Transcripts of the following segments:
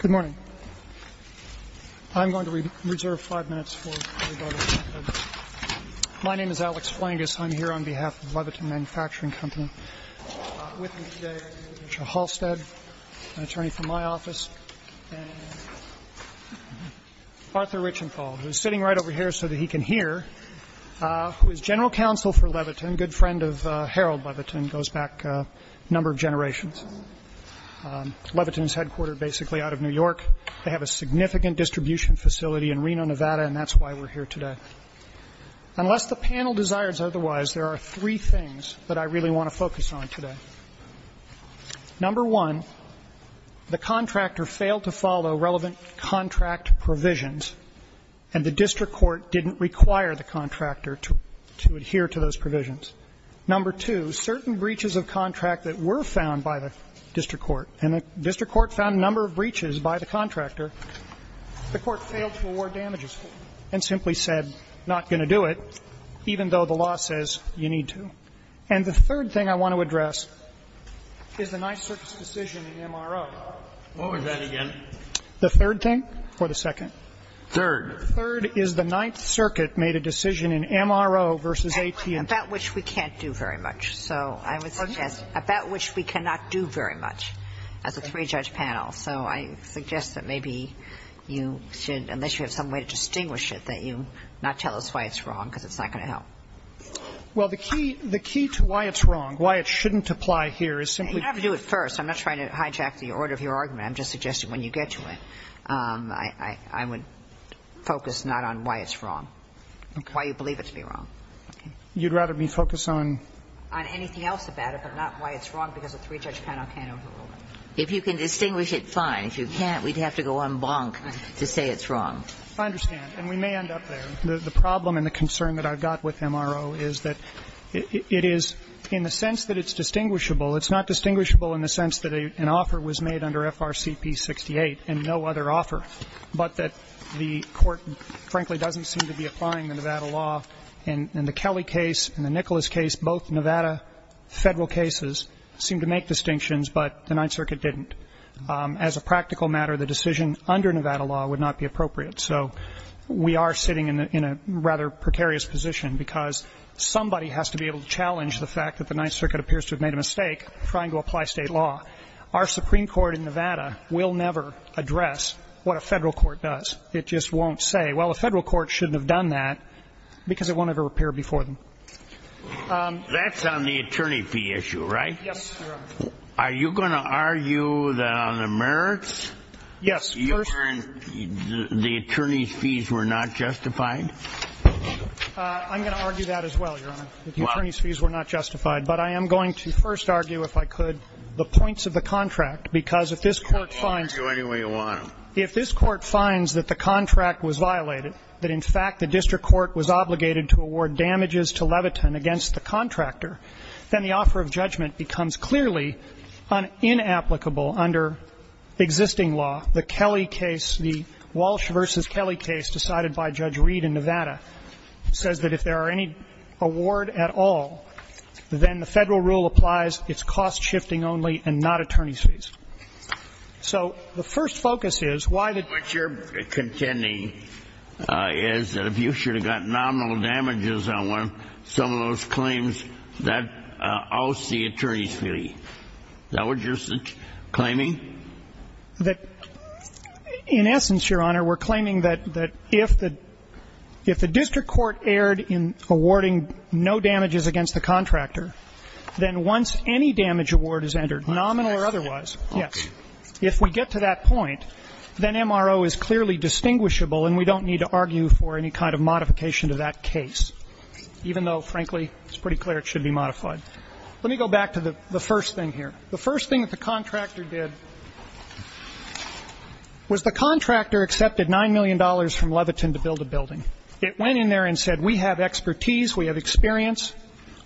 Good morning. I'm going to reserve five minutes. My name is Alex Flangus. I'm here on behalf of Leviton Manufacturing Company. With me today is Richard Halstead, an attorney from my office, and Arthur Richenthal, who is sitting right over here so that he can hear, who is general counsel for Leviton, good friend of Harold Leviton, goes back a number of generations. Leviton is headquartered basically out of New York. They have a significant distribution facility in Reno, Nevada, and that's why we're here today. Unless the panel desires otherwise, there are three things that I really want to focus on today. Number one, the contractor failed to follow relevant contract provisions, and the district court didn't require the contractor to adhere to those provisions. Number two, certain breaches of contract that were found by the district court, and the district court found a number of breaches by the contractor, the court failed to award damages and simply said, not going to do it, even though the law says you need to. And the third thing I want to address is the Ninth Circuit's decision in MRO. What was that again? The third thing or the second? Third. Third is the Ninth Circuit made a decision in MRO versus AT&T. About which we can't do very much, so I would suggest, about which we cannot do very much as a three-judge panel. So I suggest that maybe you should, unless you have some way to distinguish it, that you not tell us why it's wrong, because it's not going to help. Well, the key to why it's wrong, why it shouldn't apply here is simply to do it first. I'm not trying to hijack the order of your argument. I'm just suggesting when you get to it, I would focus not on why it's wrong, why you believe it to be wrong. You'd rather me focus on? On anything else about it, but not why it's wrong because a three-judge panel can't overrule it. If you can distinguish it, fine. If you can't, we'd have to go en blanc to say it's wrong. I understand. And we may end up there. The problem and the concern that I've got with MRO is that it is, in the sense that it's distinguishable, it's not distinguishable in the sense that an offer was made under FRCP 68 and no other offer, but that the Court, frankly, doesn't seem to be applying the Nevada law. In the Kelly case, in the Nicholas case, both Nevada Federal cases seem to make distinctions, but the Ninth Circuit didn't. As a practical matter, the decision under Nevada law would not be appropriate. So we are sitting in a rather precarious position because somebody has to be able to challenge the fact that the Ninth Circuit appears to have made a mistake trying to apply state law. Our Supreme Court in Nevada will never address what a Federal court does. It just won't say, well, a Federal court shouldn't have done that because it won't have a repair before them. That's on the attorney fee issue, right? Yes, Your Honor. Are you going to argue that on the merits, the attorney's fees were not justified? I'm going to argue that as well, Your Honor, that the attorney's fees were not justified. But I am going to first argue, if I could, the points of the contract, because if this Court finds that the contract was violated, that in fact the district court was obligated to award damages to Levitin against the contractor, then the offer of damages would be unapplicable under existing law. The Kelley case, the Walsh v. Kelley case decided by Judge Reed in Nevada, says that if there are any award at all, then the Federal rule applies, it's cost-shifting only and not attorney's fees. So the first focus is why the district court is obligated to award damages to Levitin against the contractor. Is that what you're claiming? That in essence, Your Honor, we're claiming that if the district court erred in awarding no damages against the contractor, then once any damage award is entered, nominal or otherwise, yes, if we get to that point, then MRO is clearly distinguishable and we don't need to argue for any kind of modification to that case, even though, frankly, it's pretty clear it should be modified. Let me go back to the first thing here. The first thing that the contractor did was the contractor accepted $9 million from Levitin to build a building. It went in there and said, we have expertise, we have experience,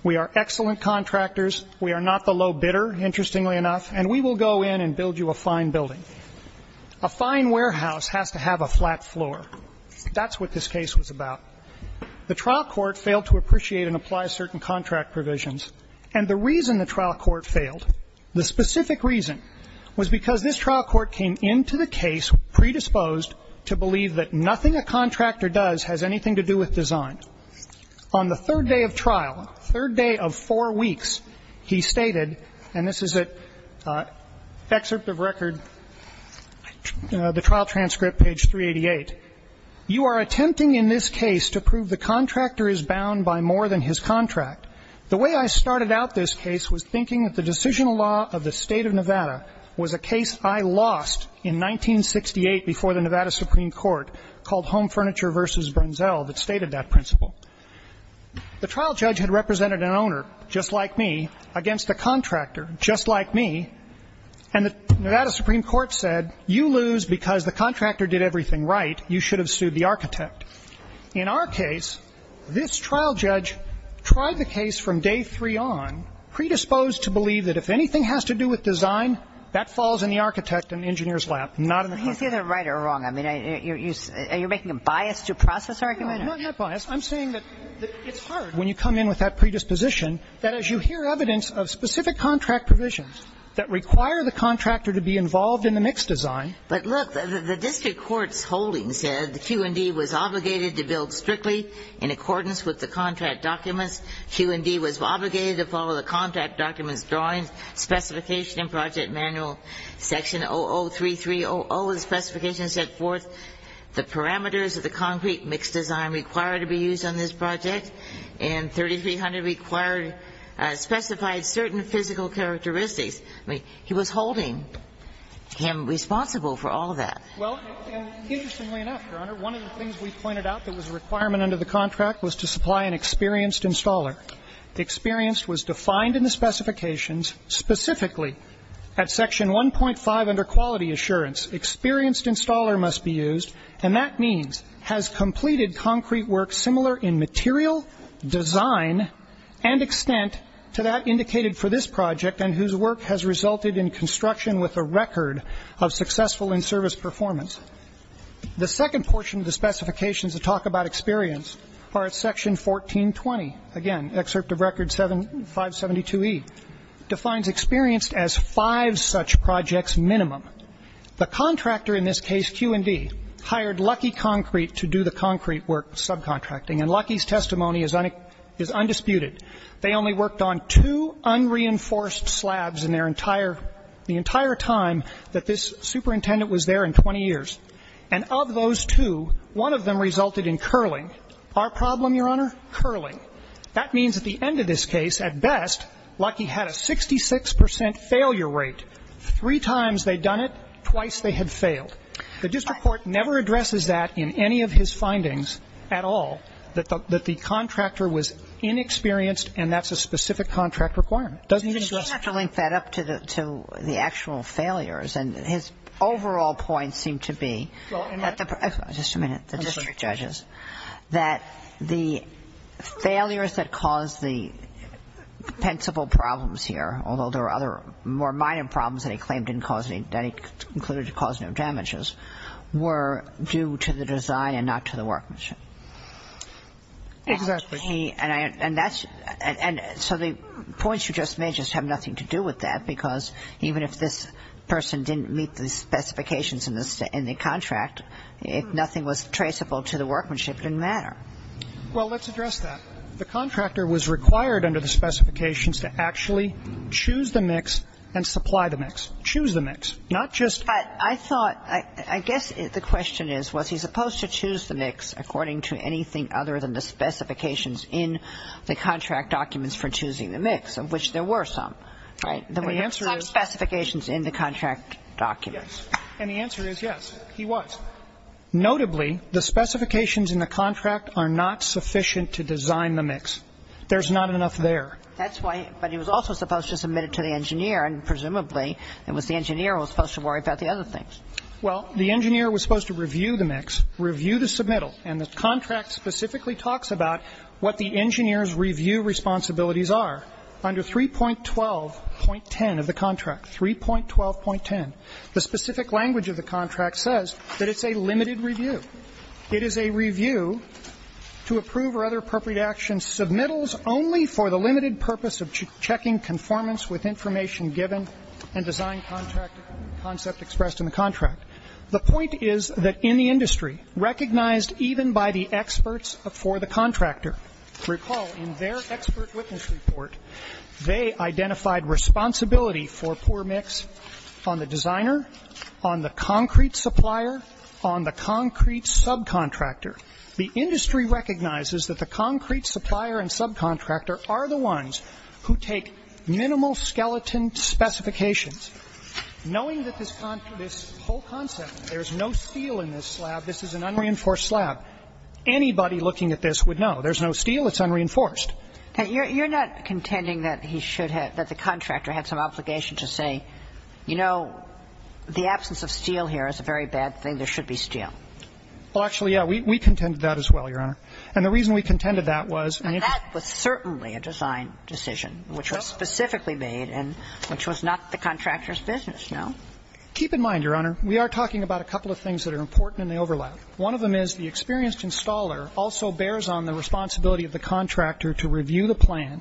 we are excellent contractors, we are not the low bidder, interestingly enough, and we will go in and build you a fine building. A fine warehouse has to have a flat floor. That's what this case was about. The trial court failed to appreciate and apply certain contract provisions. And the reason the trial court failed, the specific reason, was because this trial court came into the case predisposed to believe that nothing a contractor does has anything to do with design. On the third day of trial, third day of four weeks, he stated, and this is at excerpt of record, the trial transcript, page 388, you are attempting in this case to prove the contractor is bound by more than his contract. The way I started out this case was thinking that the decisional law of the State of Nevada was a case I lost in 1968 before the Nevada Supreme Court called Home Furniture versus Brunzel that stated that principle. The trial judge had represented an owner, just like me, against a contractor, just like me, and the Nevada Supreme Court said, you lose because the contractor did everything right. You should have sued the architect. In our case, this trial judge tried the case from day three on, predisposed to believe that if anything has to do with design, that falls in the architect and engineer's lap, not in the contractor. Kagan. He's either right or wrong. I mean, are you making a bias to process argument? No, I'm not biased. I'm saying that it's hard when you come in with that predisposition, that as you hear evidence of specific contract provisions that require the contractor to be involved in the mixed design. But look, the district court's holding said the Q and D was obligated to build strictly in accordance with the contract documents. Q and D was obligated to follow the contract documents drawings, specification in project manual section 003300, the specification set forth the parameters of the concrete mixed design required to be used on this project. And 3300 required, specified certain physical characteristics. I mean, he was holding him responsible for all of that. Well, interestingly enough, Your Honor, one of the things we pointed out that was a requirement under the contract was to supply an experienced installer. Experienced was defined in the specifications specifically at section 1.5 under quality assurance. Experienced installer must be used, and that means has completed concrete work similar in material, design, and extent to that indicated for this project and whose work has resulted in construction with a record of successful in-service performance. The second portion of the specifications that talk about experience are at section 1420, again, excerpt of record 572E, defines experienced as five such projects minimum. The contractor in this case, Q and D, hired Lucky Concrete to do the concrete work, subcontracting, and Lucky's testimony is undisputed. They only worked on two unreinforced slabs in their entire the entire time that this superintendent was there in 20 years. And of those two, one of them resulted in curling. Our problem, Your Honor, curling. That means at the end of this case, at best, Lucky had a 66 percent failure rate. Three times they'd done it, twice they had failed. The district court never addresses that in any of his findings at all, that the contractor was inexperienced and that's a specific contract requirement. It doesn't even address it. You have to link that up to the actual failures. And his overall point seemed to be that the district judges, that the failures that caused the principal problems here, although there are other more minor problems that he claimed didn't cause any, that he concluded to cause no damages, were due to the design and not to the workmanship. Exactly. And that's so the points you just made just have nothing to do with that, because even if this person didn't meet the specifications in the contract, if nothing was traceable to the workmanship, it didn't matter. Well, let's address that. The contractor was required under the specifications to actually choose the mix and supply the mix, choose the mix, not just the mix. I thought, I guess the question is, was he supposed to choose the mix according to anything other than the specifications in the contract documents for choosing the mix, of which there were some, right? The answer is. Some specifications in the contract documents. Yes. And the answer is yes, he was. Notably, the specifications in the contract are not sufficient to design the mix. There's not enough there. That's why, but he was also supposed to submit it to the engineer and presumably it was the engineer who was supposed to worry about the other things. Well, the engineer was supposed to review the mix, review the submittal, and the contract specifically talks about what the engineer's review responsibilities are under 3.12.10 of the contract, 3.12.10. The specific language of the contract says that it's a limited review. It is a review to approve or other appropriate actions, submittals only for the limited purpose of checking conformance with information given and design contract concept expressed in the contract. The point is that in the industry, recognized even by the experts for the contractor, recall in their expert witness report, they identified responsibility for poor mix on the designer, on the concrete supplier, on the concrete subcontractor. The industry recognizes that the concrete supplier and subcontractor are the ones who take minimal skeleton specifications. Knowing that this whole concept, there's no steel in this slab, this is an unreinforced slab, anybody looking at this would know. There's no steel, it's unreinforced. You're not contending that he should have, that the contractor had some obligation to say, you know, the absence of steel here is a very bad thing, there should be steel. Well, actually, yeah. We contended that as well, Your Honor. And the reason we contended that was an interest. And that was certainly a design decision, which was specifically made and which was not the contractor's business, no. Keep in mind, Your Honor, we are talking about a couple of things that are important in the overlap. One of them is the experienced installer also bears on the responsibility of the contractor to review the plan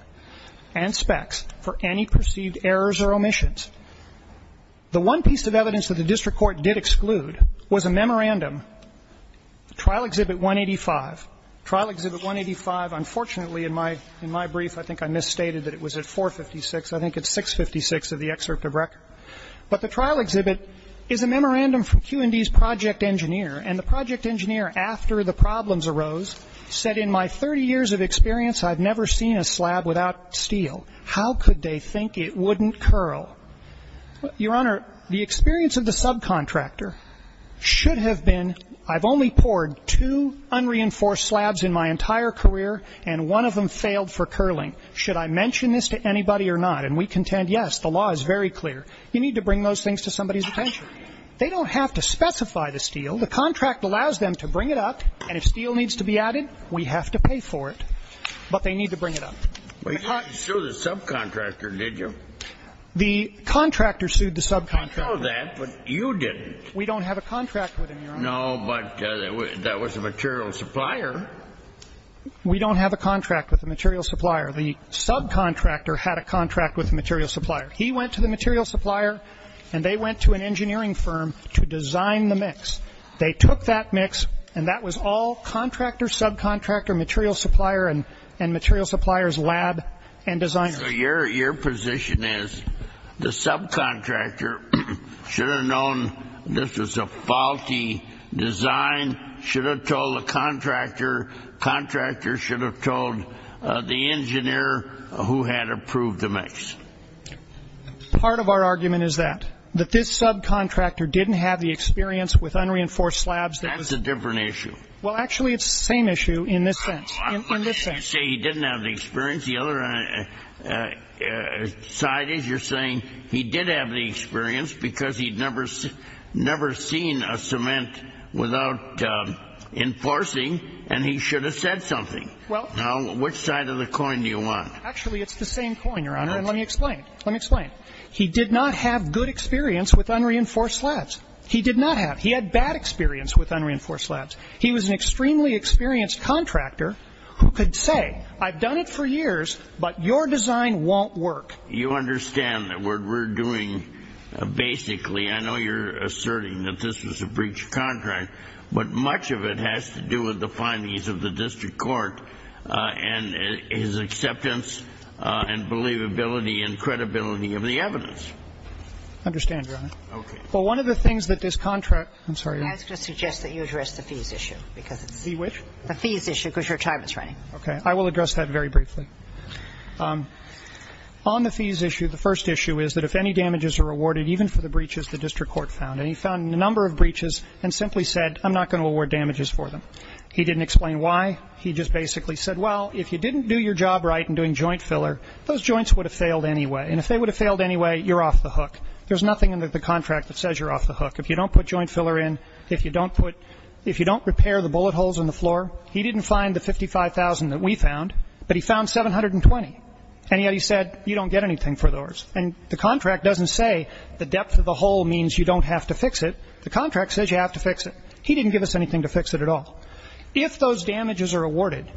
and specs for any perceived errors or omissions. The one piece of evidence that the district court did exclude was a memorandum, trial exhibit 185. Trial exhibit 185, unfortunately, in my brief, I think I misstated that it was at 456. I think it's 656 of the excerpt of record. But the trial exhibit is a memorandum from Q&D's project engineer. And the project engineer, after the problems arose, said, in my 30 years of experience, I've never seen a slab without steel. How could they think it wouldn't curl? Your Honor, the experience of the subcontractor should have been, I've only poured two unreinforced slabs in my entire career, and one of them failed for curling. Should I mention this to anybody or not? And we contend, yes, the law is very clear. You need to bring those things to somebody's attention. They don't have to specify the steel. The contract allows them to bring it up. And if steel needs to be added, we have to pay for it. But they need to bring it up. Well, you didn't sue the subcontractor, did you? The contractor sued the subcontractor. I know that, but you didn't. We don't have a contract with him, Your Honor. No, but that was the material supplier. We don't have a contract with the material supplier. The subcontractor had a contract with the material supplier. He went to the material supplier, and they went to an engineering firm to design the mix. They took that mix, and that was all contractor, subcontractor, material supplier, and material supplier's lab and designers. So your position is the subcontractor should have known this was a faulty design, should have told the contractor, contractor should have told the engineer who had approved the mix. Part of our argument is that. That this subcontractor didn't have the experience with unreinforced slabs. That's a different issue. Well, actually, it's the same issue in this sense, in this sense. You say he didn't have the experience. The other side is you're saying he did have the experience because he'd never seen a cement without enforcing, and he should have said something. Well, which side of the coin do you want? Actually, it's the same coin, Your Honor, and let me explain. Let me explain. He did not have good experience with unreinforced slabs. He did not have. He had bad experience with unreinforced slabs. He was an extremely experienced contractor who could say, I've done it for years, but your design won't work. You understand that what we're doing, basically, I know you're asserting that this was a breach of contract, but much of it has to do with the findings of the district court and his acceptance and believability and credibility of the evidence. I understand, Your Honor. Okay. Well, one of the things that this contract, I'm sorry. I was going to suggest that you address the fees issue because it's. The which? The fees issue because your time is running. Okay, I will address that very briefly. On the fees issue, the first issue is that if any damages are awarded, even for the breaches the district court found, and he found a number of breaches and simply said, I'm not going to award damages for them. He didn't explain why. He just basically said, well, if you didn't do your job right in doing joint filler, those joints would have failed anyway, and if they would have failed anyway, you're off the hook. There's nothing in the contract that says you're off the hook. If you don't put joint filler in, if you don't put, if you don't repair the bullet holes in the floor, he didn't find the 55,000 that we found, but he found 720, and yet he said, you don't get anything for those. And the contract doesn't say the depth of the hole means you don't have to fix it. The contract says you have to fix it. He didn't give us anything to fix it at all. If those damages are awarded,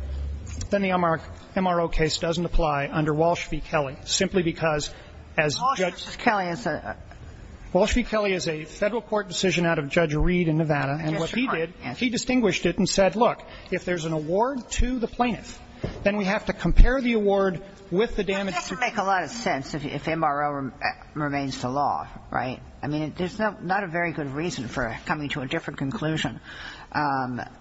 then the MRO case doesn't apply under Walsh v. Kelly, simply because as Judge. Walsh v. Kelly is a. Walsh v. Kelly is a federal court decision out of Judge Reed in Nevada, and what he did, he distinguished it and said, look, if there's an award to the plaintiff, then we have to compare the award with the damage. It doesn't make a lot of sense if MRO remains the law, right? I mean, there's not a very good reason for coming to a different conclusion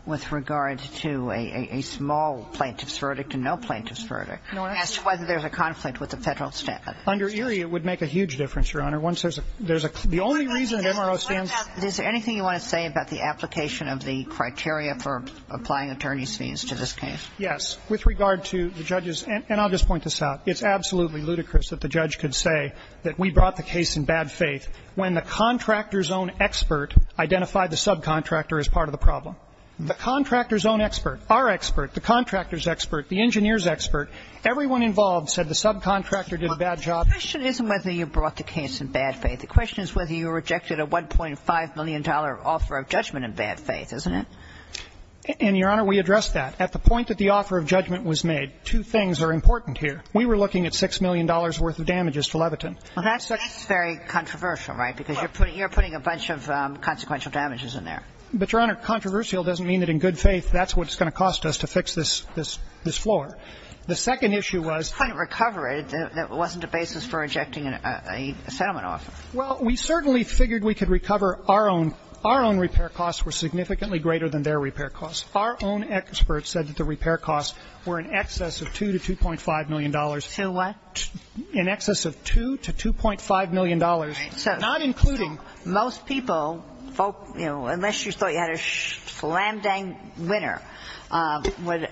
with regard to a small plaintiff's verdict and no plaintiff's verdict as to whether there's a conflict with the federal statute. Under Erie, it would make a huge difference, Your Honor. Once there's a, there's a, the only reason that MRO stands. Is there anything you want to say about the application of the criteria for applying attorney's fees to this case? Yes. With regard to the judge's, and I'll just point this out. It's absolutely ludicrous that the judge could say that we brought the case in bad faith when the contractor's own expert identified the subcontractor as part of the problem. The contractor's own expert, our expert, the contractor's expert, the engineer's expert, everyone involved said the subcontractor did a bad job. The question isn't whether you brought the case in bad faith. The question is whether you rejected a $1.5 million offer of judgment in bad faith, isn't it? And, Your Honor, we addressed that. At the point that the offer of judgment was made, two things are important here. We were looking at $6 million worth of damages to Leviton. Well, that's very controversial, right? Because you're putting, you're putting a bunch of consequential damages in there. But, Your Honor, controversial doesn't mean that in good faith that's what's going to cost us to fix this, this, this floor. The second issue was. We couldn't recover it if it wasn't a basis for rejecting a settlement offer. Well, we certainly figured we could recover our own. Our own repair costs were significantly greater than their repair costs. Our own expert said that the repair costs were in excess of $2 to $2.5 million. To what? In excess of $2 to $2.5 million, not including. Most people, folks, you know, unless you thought you had a slam-dang winner, would,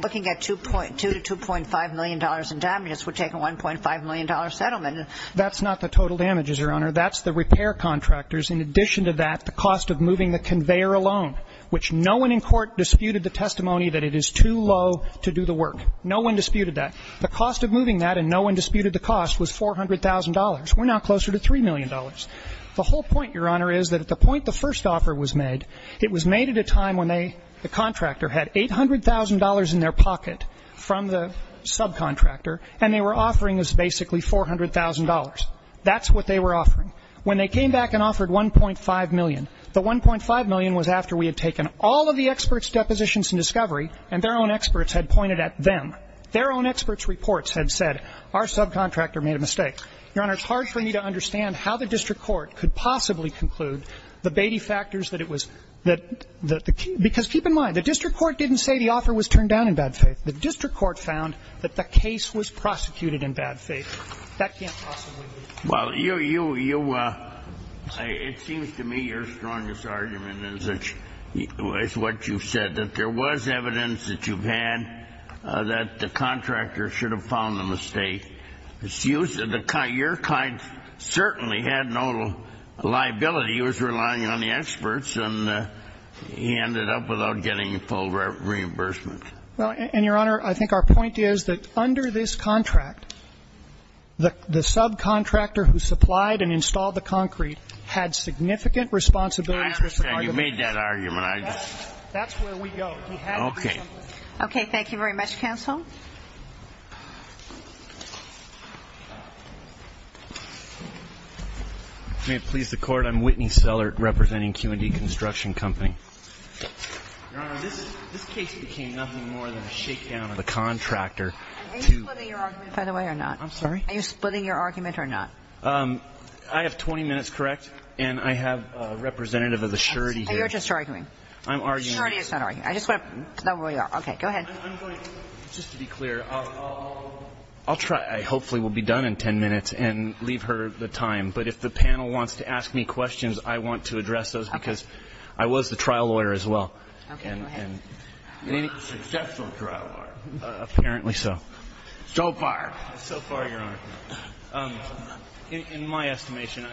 looking at $2.2 to $2.5 million in damages, would take a $1.5 million settlement. That's not the total damages, Your Honor. That's the repair contractors. In addition to that, the cost of moving the conveyor alone, which no one in court disputed the testimony that it is too low to do the work. No one disputed that. The cost of moving that, and no one disputed the cost, was $400,000. We're now closer to $3 million. The whole point, Your Honor, is that at the point the first offer was made, it was made at a time when the contractor had $800,000 in their pocket from the subcontractor, and they were offering us basically $400,000. That's what they were offering. When they came back and offered $1.5 million, the $1.5 million was after we had taken all of the experts' depositions in discovery, and their own experts had pointed at them. Their own experts' reports had said, our subcontractor made a mistake. Your Honor, it's hard for me to understand how the district court could possibly conclude the Beatty factors that it was the key. Because keep in mind, the district court didn't say the offer was turned down in bad faith. The district court found that the case was prosecuted in bad faith. That can't possibly be true. Well, you, it seems to me your strongest argument is what you said, that there was evidence that you've had that the contractor should have found the mistake. It's used, your client certainly had no liability. He was relying on the experts, and he ended up without getting full reimbursement. Well, and Your Honor, I think our point is that under this contract, the subcontractor who supplied and installed the concrete had significant responsibility for supplying the concrete. I understand. You made that argument. I just. That's where we go. Okay. Okay. Thank you very much, counsel. May it please the court, I'm Whitney Sellert, representing Q and D Construction Company. Your Honor, this case became nothing more than a shakedown of the contractor to. Are you splitting your argument, by the way, or not? I'm sorry? Are you splitting your argument or not? I have 20 minutes, correct? And I have a representative of the surety here. You're just arguing. I'm arguing. Surety is not arguing. I just want to know where we are. Okay. Go ahead. I'm going to, just to be clear, I'll try. Hopefully we'll be done in 10 minutes and leave her the time. But if the panel wants to ask me questions, I want to address those because I was the trial lawyer as well. Okay, go ahead. And a successful trial lawyer, apparently so. So far. So far, Your Honor. In my estimation,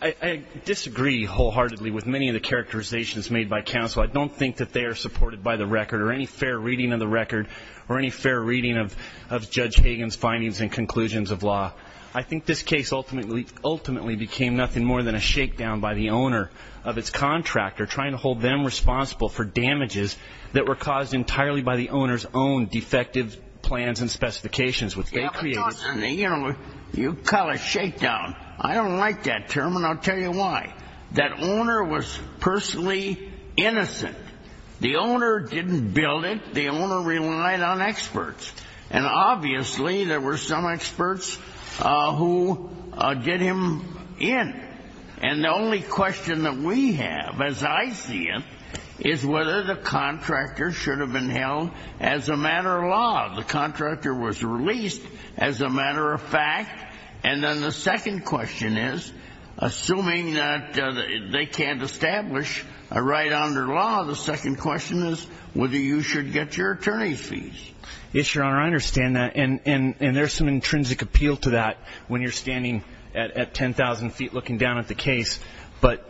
I disagree wholeheartedly with many of the characterizations made by counsel. I don't think that they are supported by the record or any fair reading of the record or any fair reading of Judge Hagan's findings and conclusions of law. I think this case ultimately became nothing more than a shakedown by the owner of its contractor trying to hold them responsible for damages that were caused entirely by the owner's own defective plans and specifications, which they created. You call it a shakedown. I don't like that term, and I'll tell you why. That owner was personally innocent. The owner didn't build it. The owner relied on experts. And obviously, there were some experts who get him in. And the only question that we have, as I see it, is whether the contractor should have been held as a matter of law. The contractor was released as a matter of fact. And then the second question is, assuming that they can't establish a right under law, the second question is whether you should get your attorney's fees. Yes, Your Honor, I understand that. And there's some intrinsic appeal to that when you're standing at 10,000 feet looking down at the case. But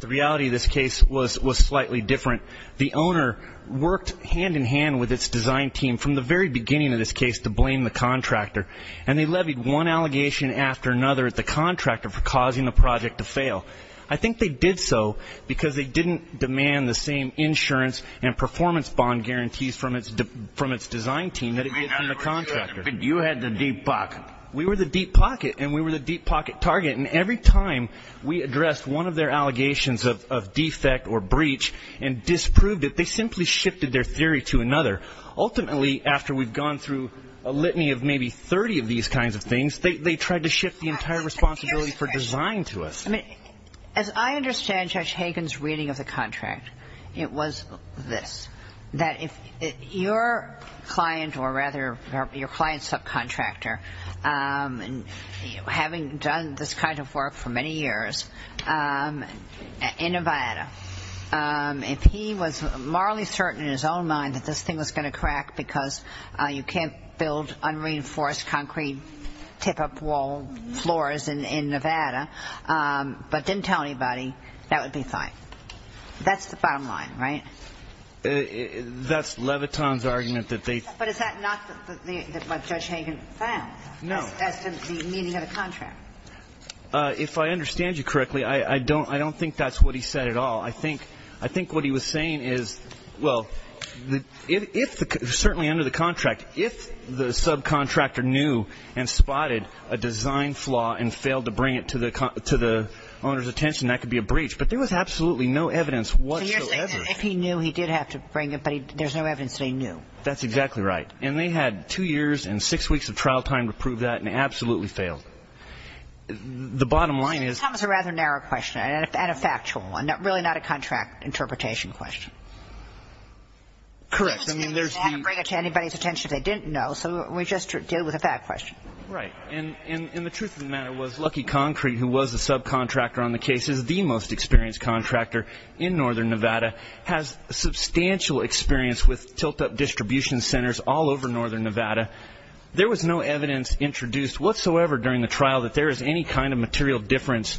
the reality of this case was slightly different. The owner worked hand-in-hand with its design team from the very beginning of this case to blame the contractor. And they levied one allegation after another at the contractor for causing the project to fail. I think they did so because they didn't demand the same insurance and performance bond guarantees from its design team that it did from the contractor. But you had the deep pocket. We were the deep pocket, and we were the deep pocket target. And every time we addressed one of their allegations of defect or breach and disproved it, they simply shifted their theory to another. Ultimately, after we've gone through a litany of maybe 30 of these kinds of things, they tried to shift the entire responsibility for design to us. I mean, as I understand Judge Hagen's reading of the contract, it was this, that if your client or rather your client's subcontractor, having done this kind of work for many years in Nevada, if he was morally certain in his own mind that this thing was going to crack because you can't build unreinforced concrete tip-up wall floors in Nevada, but didn't tell anybody, that would be fine. That's the bottom line, right? That's Leviton's argument that they- But is that not what Judge Hagen found? No. As to the meaning of the contract? If I understand you correctly, I don't think that's what he said at all. I think what he was saying is, well, certainly under the contract, if the subcontractor knew and spotted a design flaw and failed to bring it to the owner's attention, that could be a breach. But there was absolutely no evidence whatsoever. If he knew, he did have to bring it, but there's no evidence that he knew. That's exactly right. And they had two years and six weeks of trial time to prove that, and they absolutely failed. The bottom line is- That was a rather narrow question, and a factual one, really not a contract interpretation question. Correct, I mean, there's the- They wouldn't bring it to anybody's attention if they didn't know, so we just deal with a fact question. Right, and the truth of the matter was, Lucky Concrete, who was the subcontractor on the case, is the most experienced contractor in northern Nevada, has substantial experience with tilt-up distribution centers all over northern Nevada. There was no evidence introduced whatsoever during the trial that there is any kind of material difference,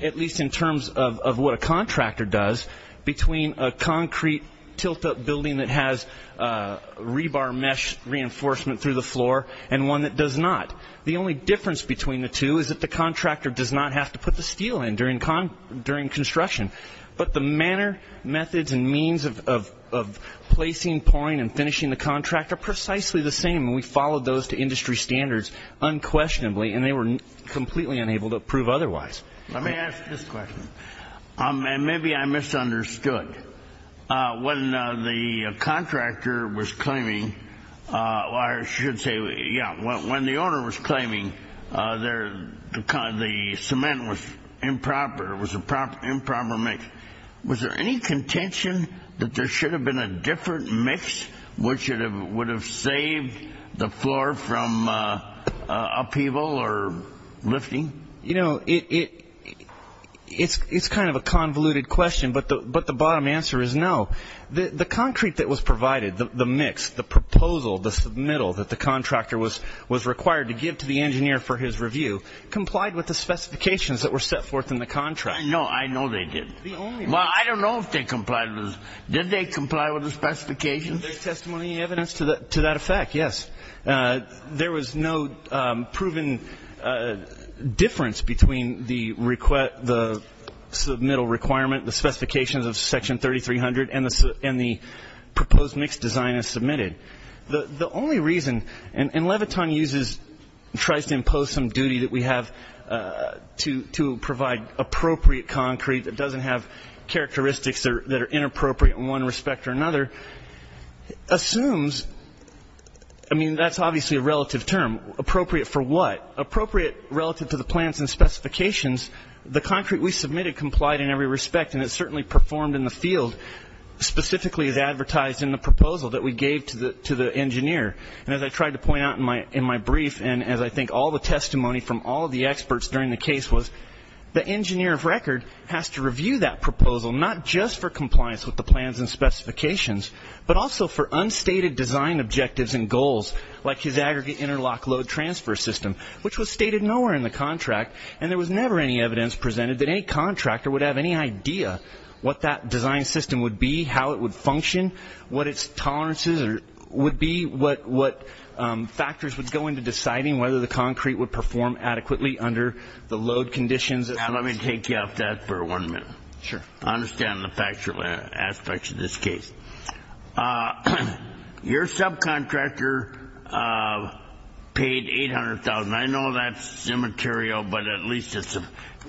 at least in terms of what a contractor does, between a concrete tilt-up building that has rebar mesh reinforcement through the floor and one that does not. The only difference between the two is that the contractor does not have to put the steel in during construction, but the manner, methods, and finishing the contract are precisely the same, and we followed those to industry standards unquestionably, and they were completely unable to prove otherwise. Let me ask this question, and maybe I misunderstood. When the contractor was claiming, or I should say, yeah, when the owner was claiming the cement was improper, it was an improper mix. Was there any contention that there should have been a different mix, which would have saved the floor from upheaval or lifting? You know, it's kind of a convoluted question, but the bottom answer is no. The concrete that was provided, the mix, the proposal, the submittal that the contractor was required to give to the engineer for his review, complied with the specifications that were set forth in the contract. I know, I know they did. Well, I don't know if they complied with it. Did they comply with the specifications? Is there testimony evidence to that effect? Yes. There was no proven difference between the submittal requirement, the specifications of section 3300, and the proposed mix design as submitted. The only reason, and Leviton uses, tries to impose some duty that we have to provide appropriate concrete that doesn't have characteristics that are inappropriate in one respect or another, assumes, I mean, that's obviously a relative term. Appropriate for what? Appropriate relative to the plans and specifications. The concrete we submitted complied in every respect, and it certainly performed in the field, specifically as advertised in the proposal that we gave to the engineer. And as I tried to point out in my brief, and as I think all the testimony from all of the experts during the case was, the engineer of record has to review that proposal, not just for compliance with the plans and specifications, but also for unstated design objectives and goals, like his aggregate interlock load transfer system, which was stated nowhere in the contract. And there was never any evidence presented that any contractor would have any idea what that design system would be, how it would function, what its tolerances would be, what factors would go into deciding whether the concrete would perform adequately under the load conditions. Now, let me take you off that for one minute. Sure. I understand the factual aspects of this case. Your subcontractor paid $800,000. I know that's immaterial, but at least it's a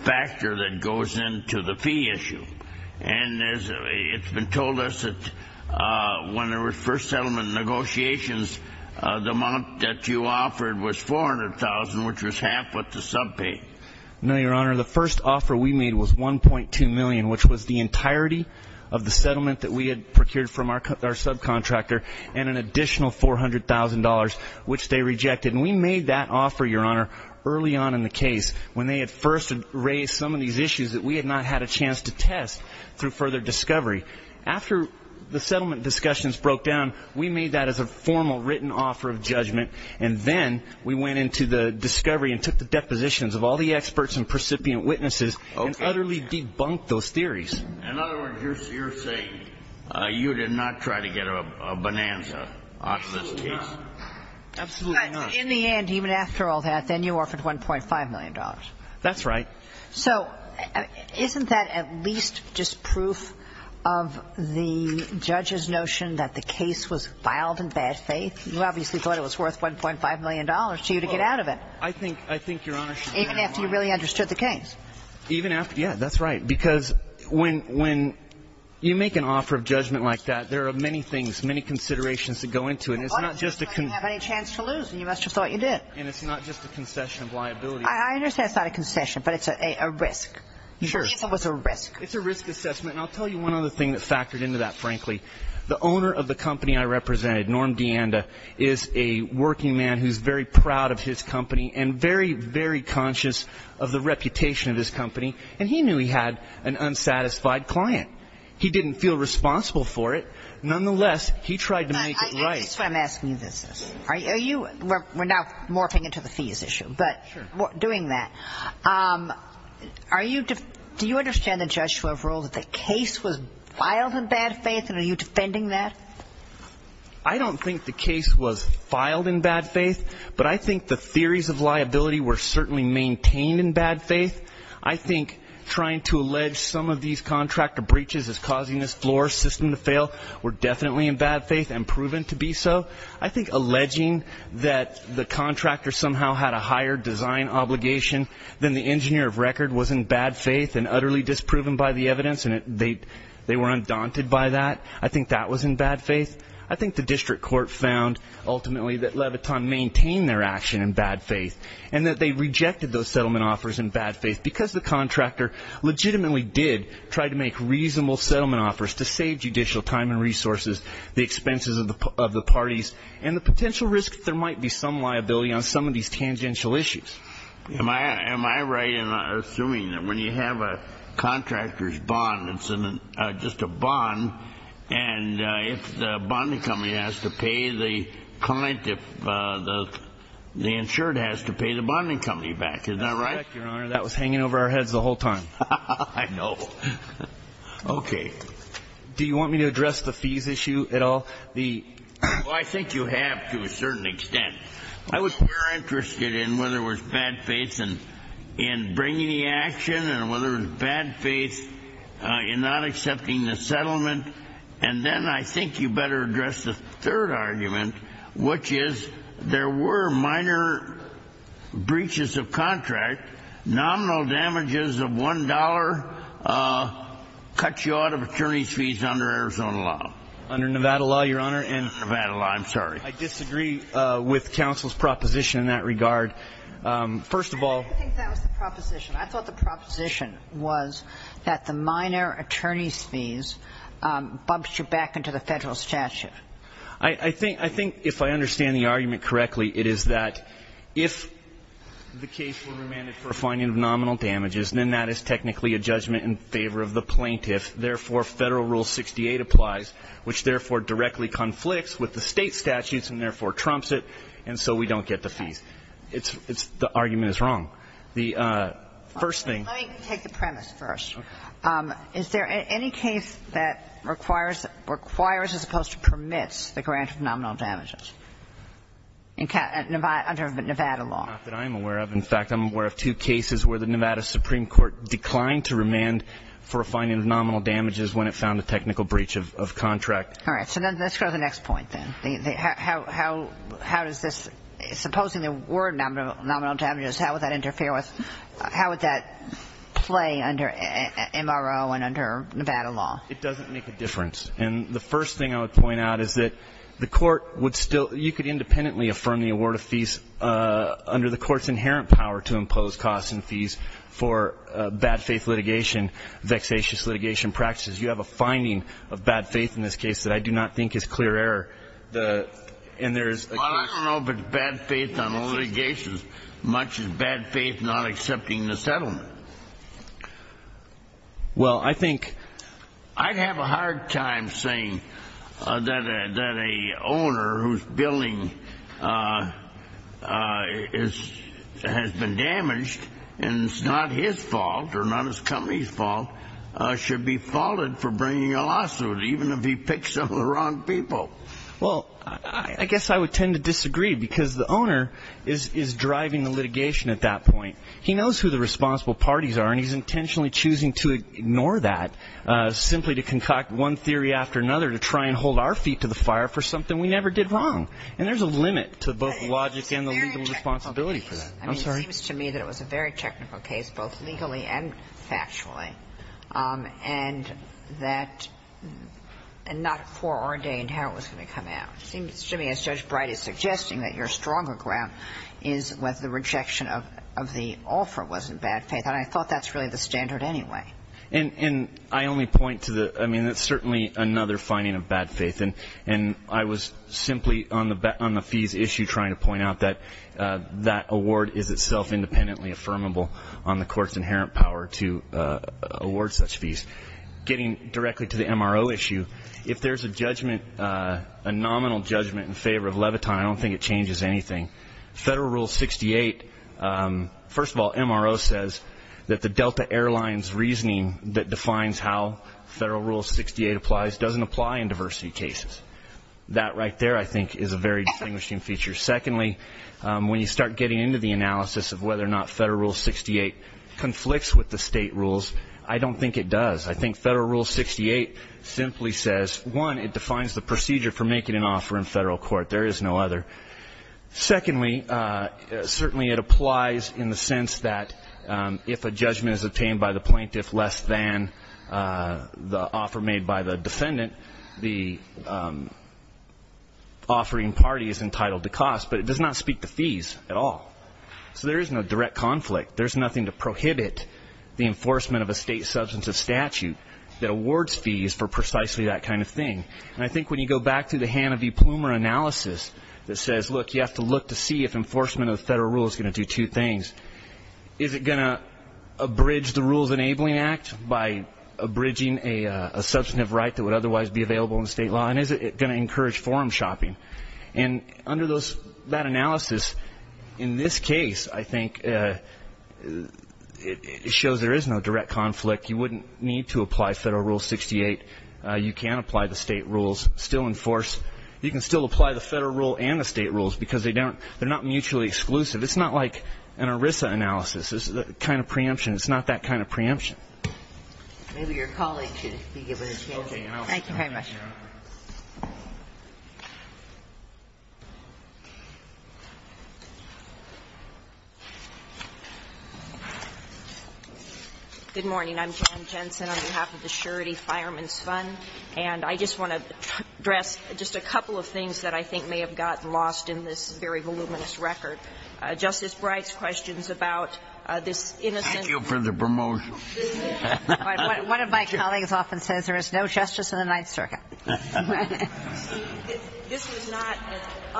factor that goes into the fee issue. And it's been told us that when there was first settlement negotiations, the amount that you offered was $400,000, which was half what the sub paid. No, Your Honor. The first offer we made was $1.2 million, which was the entirety of the settlement that we had procured from our subcontractor, and an additional $400,000, which they rejected. And we made that offer, Your Honor, early on in the case, when they had first raised some of these issues that we had not had a chance to test through further discovery. After the settlement discussions broke down, we made that as a formal written offer of judgment. And then we went into the discovery and took the depositions of all the experts and precipient witnesses and utterly debunked those theories. In other words, you're saying you did not try to get a bonanza off this case? Absolutely not. In the end, even after all that, then you offered $1.5 million. That's right. So isn't that at least just proof of the judge's notion that the case was vile in bad faith? You obviously thought it was worth $1.5 million to you to get out of it. I think Your Honor should be very mindful of that. Even after you really understood the case? Even after, yeah, that's right. Because when you make an offer of judgment like that, there are many things, many considerations that go into it. And it's not just a concession of liability. I understand it's not a concession, but it's a risk. It's a risk assessment. And I'll tell you one other thing that factored into that, frankly. The owner of the company I represented, Norm DeAnda, is a working man who's very proud of his company and very, very conscious of the reputation of his company. And he knew he had an unsatisfied client. He didn't feel responsible for it. Nonetheless, he tried to make it right. I guess that's why I'm asking you this. We're now morphing into the fees issue, but doing that, do you understand the bad faith, and are you defending that? I don't think the case was filed in bad faith, but I think the theories of liability were certainly maintained in bad faith. I think trying to allege some of these contractor breaches as causing this floor system to fail were definitely in bad faith and proven to be so. I think alleging that the contractor somehow had a higher design obligation than the engineer of record was in bad faith and utterly disproven by the I think that was in bad faith. I think the district court found, ultimately, that Leviton maintained their action in bad faith and that they rejected those settlement offers in bad faith because the contractor legitimately did try to make reasonable settlement offers to save judicial time and resources, the expenses of the parties, and the potential risk that there might be some liability on some of these tangential issues. Am I right in assuming that when you have a contractor's bond, it's just a bond, and if the bond company has to pay the client, if the insured has to pay the bonding company back, is that right? That's correct, Your Honor. That was hanging over our heads the whole time. I know. Okay. Do you want me to address the fees issue at all? I think you have to a certain extent. I was more interested in whether it was bad faith in bringing the action and whether it was bad faith in not accepting the settlement. And then I think you better address the third argument, which is there were minor breaches of contract, nominal damages of $1, cut you out of attorney's fees under Arizona law. Under Nevada law, Your Honor, and Nevada law, I'm sorry. I disagree with counsel's proposition in that regard. First of all, I didn't think that was the proposition. I thought the proposition was that the minor attorney's fees bumped you back into the federal statute. I think if I understand the argument correctly, it is that if the case were remanded for a fine of nominal damages, then that is technically a judgment in favor of the plaintiff. Therefore, Federal Rule 68 applies, which therefore directly conflicts with the state statutes and therefore trumps it, and so we don't get the fees. The argument is wrong. The first thing. Let me take the premise first. Is there any case that requires, as opposed to permits, the grant of nominal damages under Nevada law? Not that I'm aware of. In fact, I'm aware of two cases where the Nevada Supreme Court declined to remand for a fine of nominal damages when it found a technical breach of contract. All right, so let's go to the next point then. How does this, supposing the word nominal damages, how would that interfere with, how would that play under MRO and under Nevada law? It doesn't make a difference. And the first thing I would point out is that the court would still, you could independently affirm the award of fees under the court's inherent power to impose costs and fees for bad faith litigation, vexatious litigation practices. You have a finding of bad faith in this case that I do not think is clear error. And there's a case- I don't know if it's bad faith on litigations, much as bad faith not accepting the settlement. Well, I think- I'd have a hard time saying that a owner whose billing has been damaged, and it's not his fault or not his company's fault, should be faulted for bringing a lawsuit, even if he picked some of the wrong people. Well, I guess I would tend to disagree because the owner is driving the litigation at that point. He knows who the responsible parties are, and he's intentionally choosing to ignore that, simply to concoct one theory after another to try and hold our feet to the fire for something we never did wrong. And there's a limit to both logic and the legal responsibility for that. I'm sorry. It seems to me that it was a very technical case, both legally and factually. And that- and not foreordained how it was going to come out. It seems to me, as Judge Bright is suggesting, that your stronger ground is whether the rejection of the offer wasn't bad faith. And I thought that's really the standard anyway. And I only point to the- I mean, that's certainly another finding of bad faith. And I was simply on the fees issue trying to point out that that award is itself independently affirmable on the court's inherent power to award such fees. Getting directly to the MRO issue, if there's a judgment, a nominal judgment in favor of Leviton, I don't think it changes anything. Federal Rule 68, first of all, MRO says that the Delta Airlines reasoning that defines how Federal Rule 68 applies doesn't apply in diversity cases. That right there, I think, is a very distinguishing feature. Secondly, when you start getting into the analysis of whether or not Federal Rule 68 conflicts with the state rules, I don't think it does. I think Federal Rule 68 simply says, one, it defines the procedure for making an offer in federal court. There is no other. Secondly, certainly it applies in the sense that if a judgment is obtained by the plaintiff less than the offer made by the defendant, the offering party is entitled to cost. But it does not speak to fees at all. So there is no direct conflict. There's nothing to prohibit the enforcement of a state substantive statute that awards fees for precisely that kind of thing. And I think when you go back to the Hannah v. Plumer analysis that says, look, you have to look to see if enforcement of the federal rule is going to do two things. Is it going to abridge the Rules Enabling Act by abridging a substantive right that would otherwise be available in state law? And is it going to encourage forum shopping? And under that analysis, in this case, I think it shows there is no direct conflict. You wouldn't need to apply Federal Rule 68. You can apply the state rules, still enforce. You can still apply the federal rule and the state rules, because they're not mutually exclusive. It's not like an ERISA analysis. It's the kind of preemption. It's not that kind of preemption. Maybe your colleague should be given a chance. Thank you very much. Good morning. I'm Jan Jensen on behalf of the Surety Fireman's Fund. And I just want to address just a couple of things that I think may have gotten lost in this very voluminous record. Justice Breyer's question is about this innocent. Thank you for the promotion. One of my colleagues often says there is no justice in the Ninth Circuit. This is not an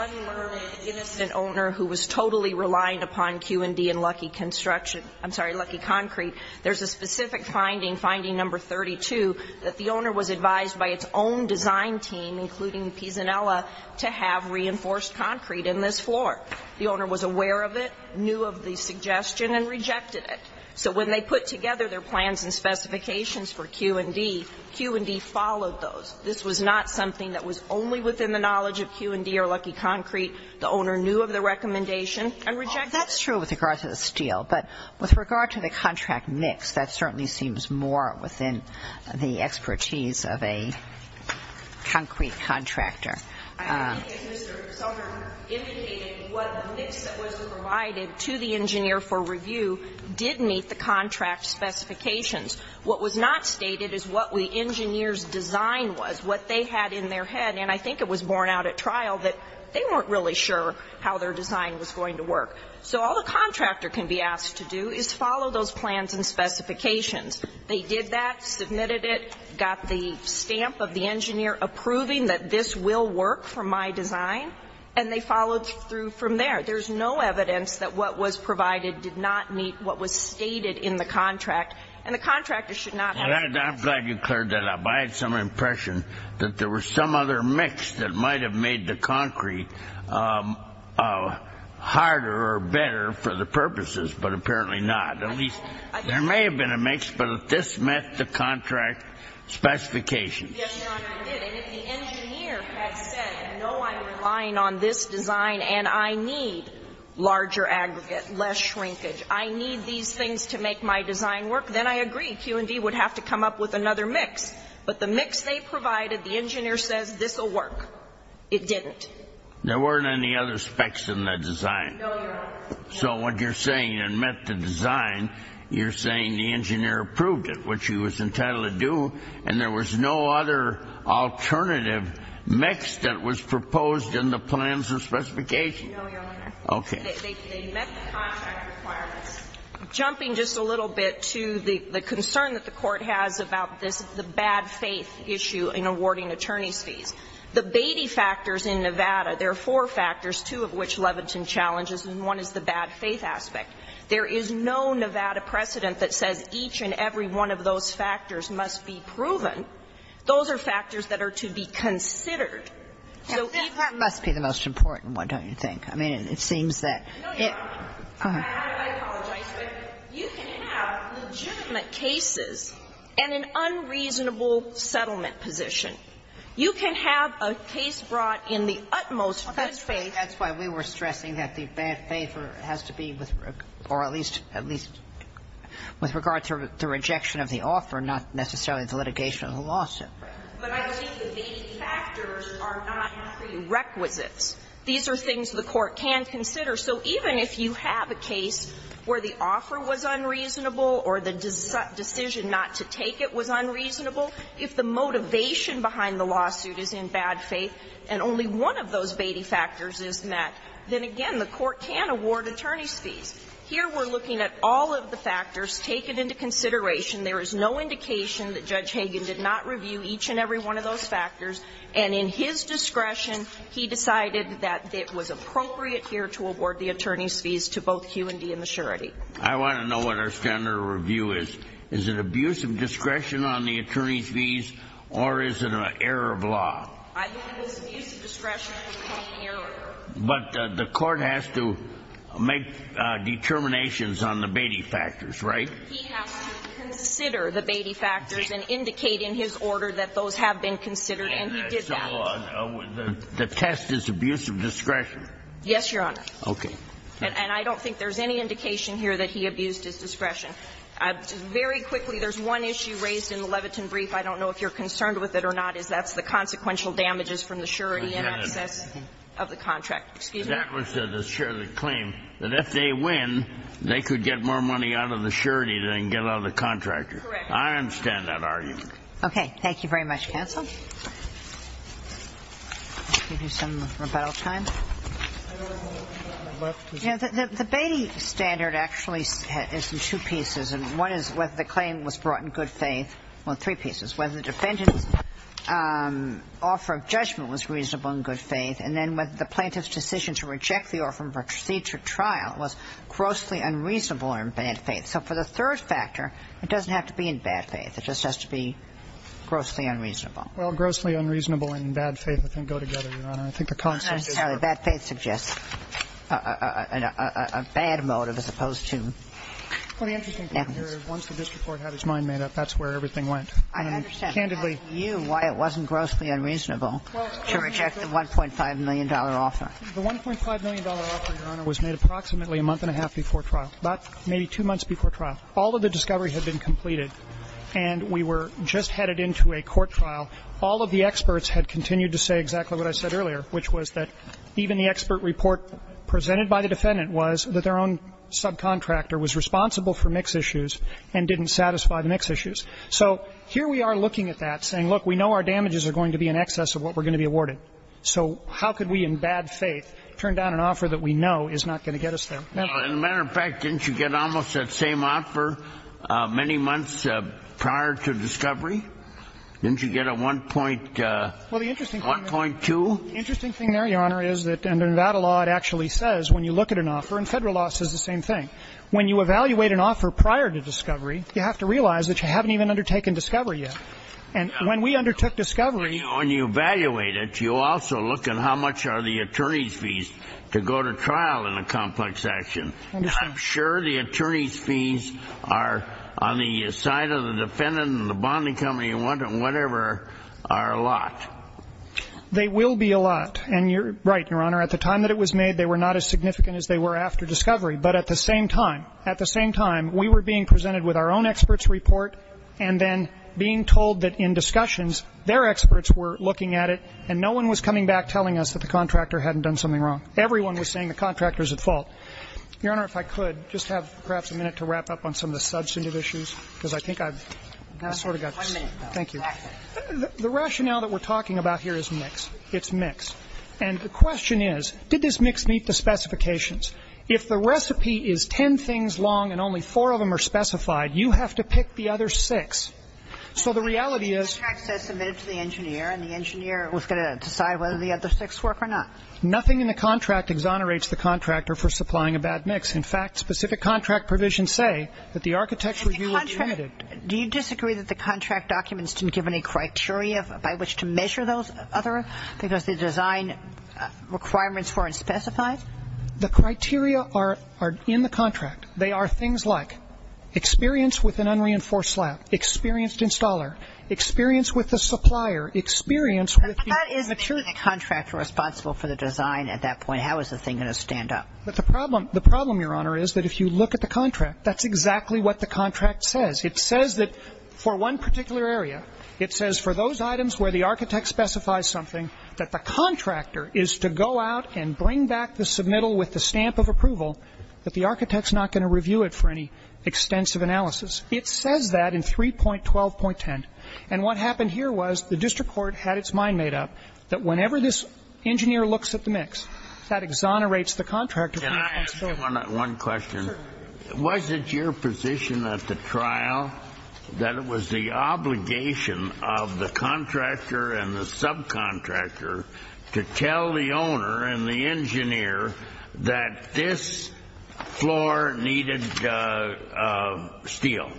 unlearned, innocent owner who was totally relying upon Q&D and lucky construction. I'm sorry, lucky concrete. There's a specific finding, finding number 32, that the owner was advised by its own design team, including Pisanella, to have reinforced concrete in this floor. The owner was aware of it, knew of the suggestion, and rejected it. So when they put together their plans and specifications for Q&D, Q&D followed those. This was not something that was only within the knowledge of Q&D or lucky concrete. The owner knew of the recommendation and rejected it. That's true with regard to the steel. But with regard to the contract mix, that certainly seems more within the expertise of a concrete contractor. I think as Mr. Sommer indicated, what the mix that was provided to the engineer for review did meet the contract specifications. What was not stated is what the engineer's design was, what they had in their head. And I think it was borne out at trial that they weren't really sure how their design was going to work. So all the contractor can be asked to do is follow those plans and specifications. They did that, submitted it, got the stamp of the engineer approving that this will work for my design, and they followed through from there. There's no evidence that what was provided did not meet what was stated in the contract, and the contractor should not have to do that. I'm glad you cleared that up. I had some impression that there was some other mix that might have made the concrete harder or better for the purposes, but apparently not. At least there may have been a mix, but this met the contract specifications. Yes, Your Honor, it did. Larger aggregate, less shrinkage. I need these things to make my design work. Then I agree. Q&D would have to come up with another mix. But the mix they provided, the engineer says, this will work. It didn't. There weren't any other specs in the design. So what you're saying, it met the design. You're saying the engineer approved it, which he was entitled to do, and there was no other alternative mix that was proposed in the plans and specifications. No, Your Honor. Okay. They met the contract requirements. Jumping just a little bit to the concern that the Court has about this, the bad faith issue in awarding attorney's fees. The Beatty factors in Nevada, there are four factors, two of which Leviton challenges, and one is the bad faith aspect. There is no Nevada precedent that says each and every one of those factors must be proven. Those are factors that are to be considered. That must be the most important one, don't you think? I mean, it seems that it No, Your Honor. I apologize. You can have legitimate cases and an unreasonable settlement position. You can have a case brought in the utmost good faith. That's why we were stressing that the bad faith has to be with or at least with regard to the rejection of the offer, not necessarily the litigation of the lawsuit. But I think the Beatty factors are not prerequisites. These are things the Court can consider. So even if you have a case where the offer was unreasonable or the decision not to take it was unreasonable, if the motivation behind the lawsuit is in bad faith and only one of those Beatty factors is met, then again, the Court can award attorney's fees. Here we're looking at all of the factors taken into consideration. There is no indication that Judge Hagan did not review each and every one of those factors. And in his discretion, he decided that it was appropriate here to award the attorney's fees to both Q&D and the surety. I want to know what our standard of review is. Is it abuse of discretion on the attorney's fees, or is it an error of law? I think it's abuse of discretion. But the Court has to make determinations on the Beatty factors, right? He has to consider the Beatty factors and indicate in his order that those have been considered, and he did that. So the test is abuse of discretion? Yes, Your Honor. Okay. And I don't think there's any indication here that he abused his discretion. Very quickly, there's one issue raised in the Leviton brief. I don't know if you're concerned with it or not, is that's the consequential damages from the surety in excess of the contract. Excuse me? That was the surety claim, that if they win, they could get more money out of the surety than they can get out of the contractor. Correct. I understand that argument. Okay. Thank you very much, counsel. I'll give you some rebuttal time. The Beatty standard actually is in two pieces, and one is whether the claim was brought in good faith, well, three pieces, whether the defendant's offer of judgment was reasonable in good faith, and then whether the plaintiff's decision to reject the offer for a procedure trial was grossly unreasonable or in bad faith. So for the third factor, it doesn't have to be in bad faith. It just has to be grossly unreasonable. Well, grossly unreasonable and bad faith, I think, go together, Your Honor. I think the concept is that the bad faith suggests a bad motive as opposed to. Well, the interesting thing here is once the district court had his mind made up, that's where everything went. I understand. Candidly. I'm asking you why it wasn't grossly unreasonable to reject the $1.5 million offer. The $1.5 million offer, Your Honor, was made approximately a month and a half before trial, about maybe two months before trial. All of the discovery had been completed, and we were just headed into a court trial. All of the experts had continued to say exactly what I said earlier, which was that even the expert report presented by the defendant was that their own subcontractor was responsible for mix issues and didn't satisfy the mix issues. So here we are looking at that, saying, look, we know our damages are going to be in excess of what we're going to be awarded, so how could we, in bad faith, turn down an offer that we know is not going to get us there? In a matter of fact, didn't you get almost that same offer many months prior to discovery? Didn't you get a 1.2? Well, the interesting thing there, Your Honor, is that under Nevada law, it actually says, when you look at an offer, and Federal law says the same thing, when you evaluate an offer prior to discovery, you have to realize that you haven't even undertaken discovery yet. And when we undertook discovery and you evaluate it, you also look at how much are the attorneys' fees to go to trial in a complex action. I'm sure the attorneys' fees are, on the side of the defendant and the bonding company and whatever, are a lot. They will be a lot. And you're right, Your Honor. At the time that it was made, they were not as significant as they were after discovery. But at the same time, at the same time, we were being presented with our own experts' report, and then being told that in discussions, their experts were looking at it, and no one was coming back telling us that the contractor hadn't done something wrong. Everyone was saying the contractor's at fault. Your Honor, if I could, just to have perhaps a minute to wrap up on some of the substantive issues, because I think I've sort of got this. Thank you. The rationale that we're talking about here is mixed. It's mixed. And the question is, did this mix meet the specifications? If the recipe is ten things long and only four of them are specified, you have to pick So the reality is the contract says submit it to the engineer, and the engineer is going to decide whether the other six work or not. Nothing in the contract exonerates the contractor for supplying a bad mix. In fact, specific contract provisions say that the architect's review of the united Do you disagree that the contract documents didn't give any criteria by which to measure those other, because the design requirements weren't specified? The criteria are in the contract. They are things like experience with an unreinforced slab, experienced installer, experience with the supplier, experience with the But that is making a contractor responsible for the design at that point. How is the thing going to stand up? But the problem, the problem, Your Honor, is that if you look at the contract, that's exactly what the contract says. It says that for one particular area, it says for those items where the architect specifies something, that the contractor is to go out and bring back the submittal with the stamp of approval, that the architect's not going to review it for any extensive analysis. It says that in 3.12.10. And what happened here was the district court had its mind made up that whenever this engineer looks at the mix, that exonerates the contractor. Can I ask you one question? Sure. Was it your position at the trial that it was the obligation of the contractor and the subcontractor to tell the owner and the engineer that this floor needed steel?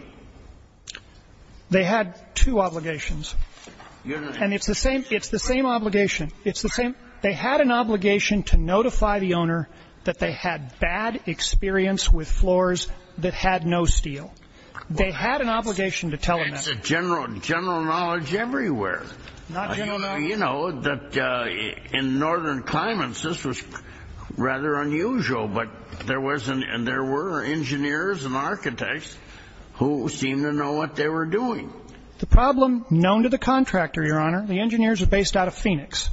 They had two obligations. And it's the same obligation. It's the same. They had an obligation to notify the owner that they had bad experience with floors that had no steel. They had an obligation to tell them. It's a general knowledge everywhere. You know that in northern climates, this was rather unusual. But there was and there were engineers and architects who seemed to know what they were doing. The problem known to the contractor, Your Honor, the engineers are based out of Phoenix.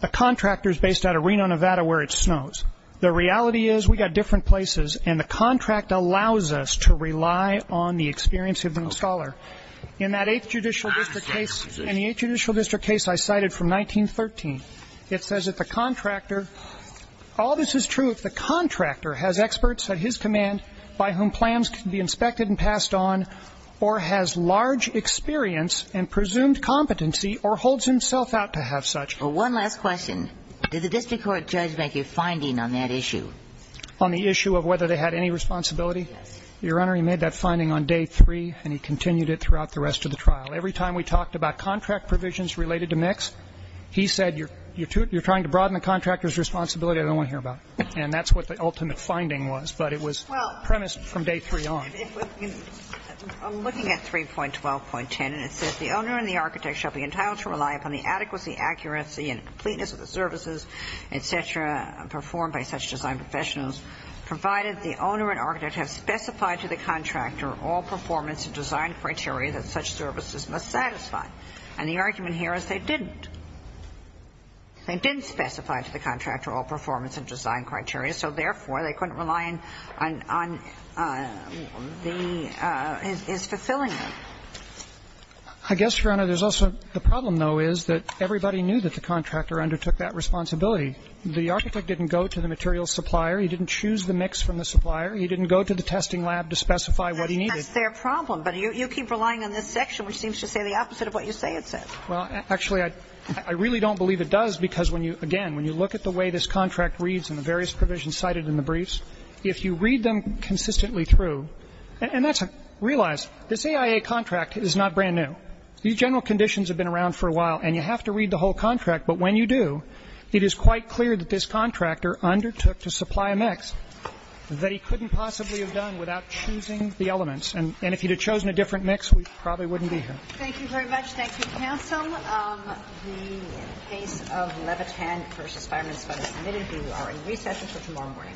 The contractor is based out of Reno, Nevada, where it snows. The reality is we got different places, and the contract allows us to rely on the experience of the installer. In that 8th Judicial District case, in the 8th Judicial District case I cited from 1913, it says that the contractor, all this is true if the contractor has experts at his command by whom plans can be inspected and passed on or has large experience and presumed competency or holds himself out to have such. Well, one last question. Did the district court judge make a finding on that issue? On the issue of whether they had any responsibility? Yes. Your Honor, he made that finding on day three, and he continued it throughout the rest of the trial. Every time we talked about contract provisions related to mix, he said, You're trying to broaden the contractor's responsibility. I don't want to hear about it. And that's what the ultimate finding was. But it was premised from day three on. I'm looking at 3.12.10, and it says the owner and the architect shall be entitled to rely upon the adequacy, accuracy, and completeness of the services, et cetera, performed by such design professionals, provided the owner and architect have specified to the contractor all performance and design criteria that such services must satisfy. And the argument here is they didn't. They didn't specify to the contractor all performance and design criteria, so therefore, they couldn't rely on the his fulfilling them. I guess, Your Honor, there's also the problem, though, is that everybody knew that the contractor undertook that responsibility. The architect didn't go to the materials supplier. He didn't choose the mix from the supplier. He didn't go to the testing lab to specify what he needed. That's their problem. But you keep relying on this section, which seems to say the opposite of what you say it says. Well, actually, I really don't believe it does, because when you – again, when you look at the way this contract reads and the various provisions cited in the briefs, if you read them consistently through – and that's – realize this AIA contract is not brand new. These general conditions have been around for a while, and you have to read the whole contract. But when you do, it is quite clear that this contractor undertook to supply a mix that he couldn't possibly have done without choosing the elements. And if he'd have chosen a different mix, we probably wouldn't be here. Thank you very much. Thank you, counsel. The case of Levitan v. Fireman is submitted. We are in recess until tomorrow morning.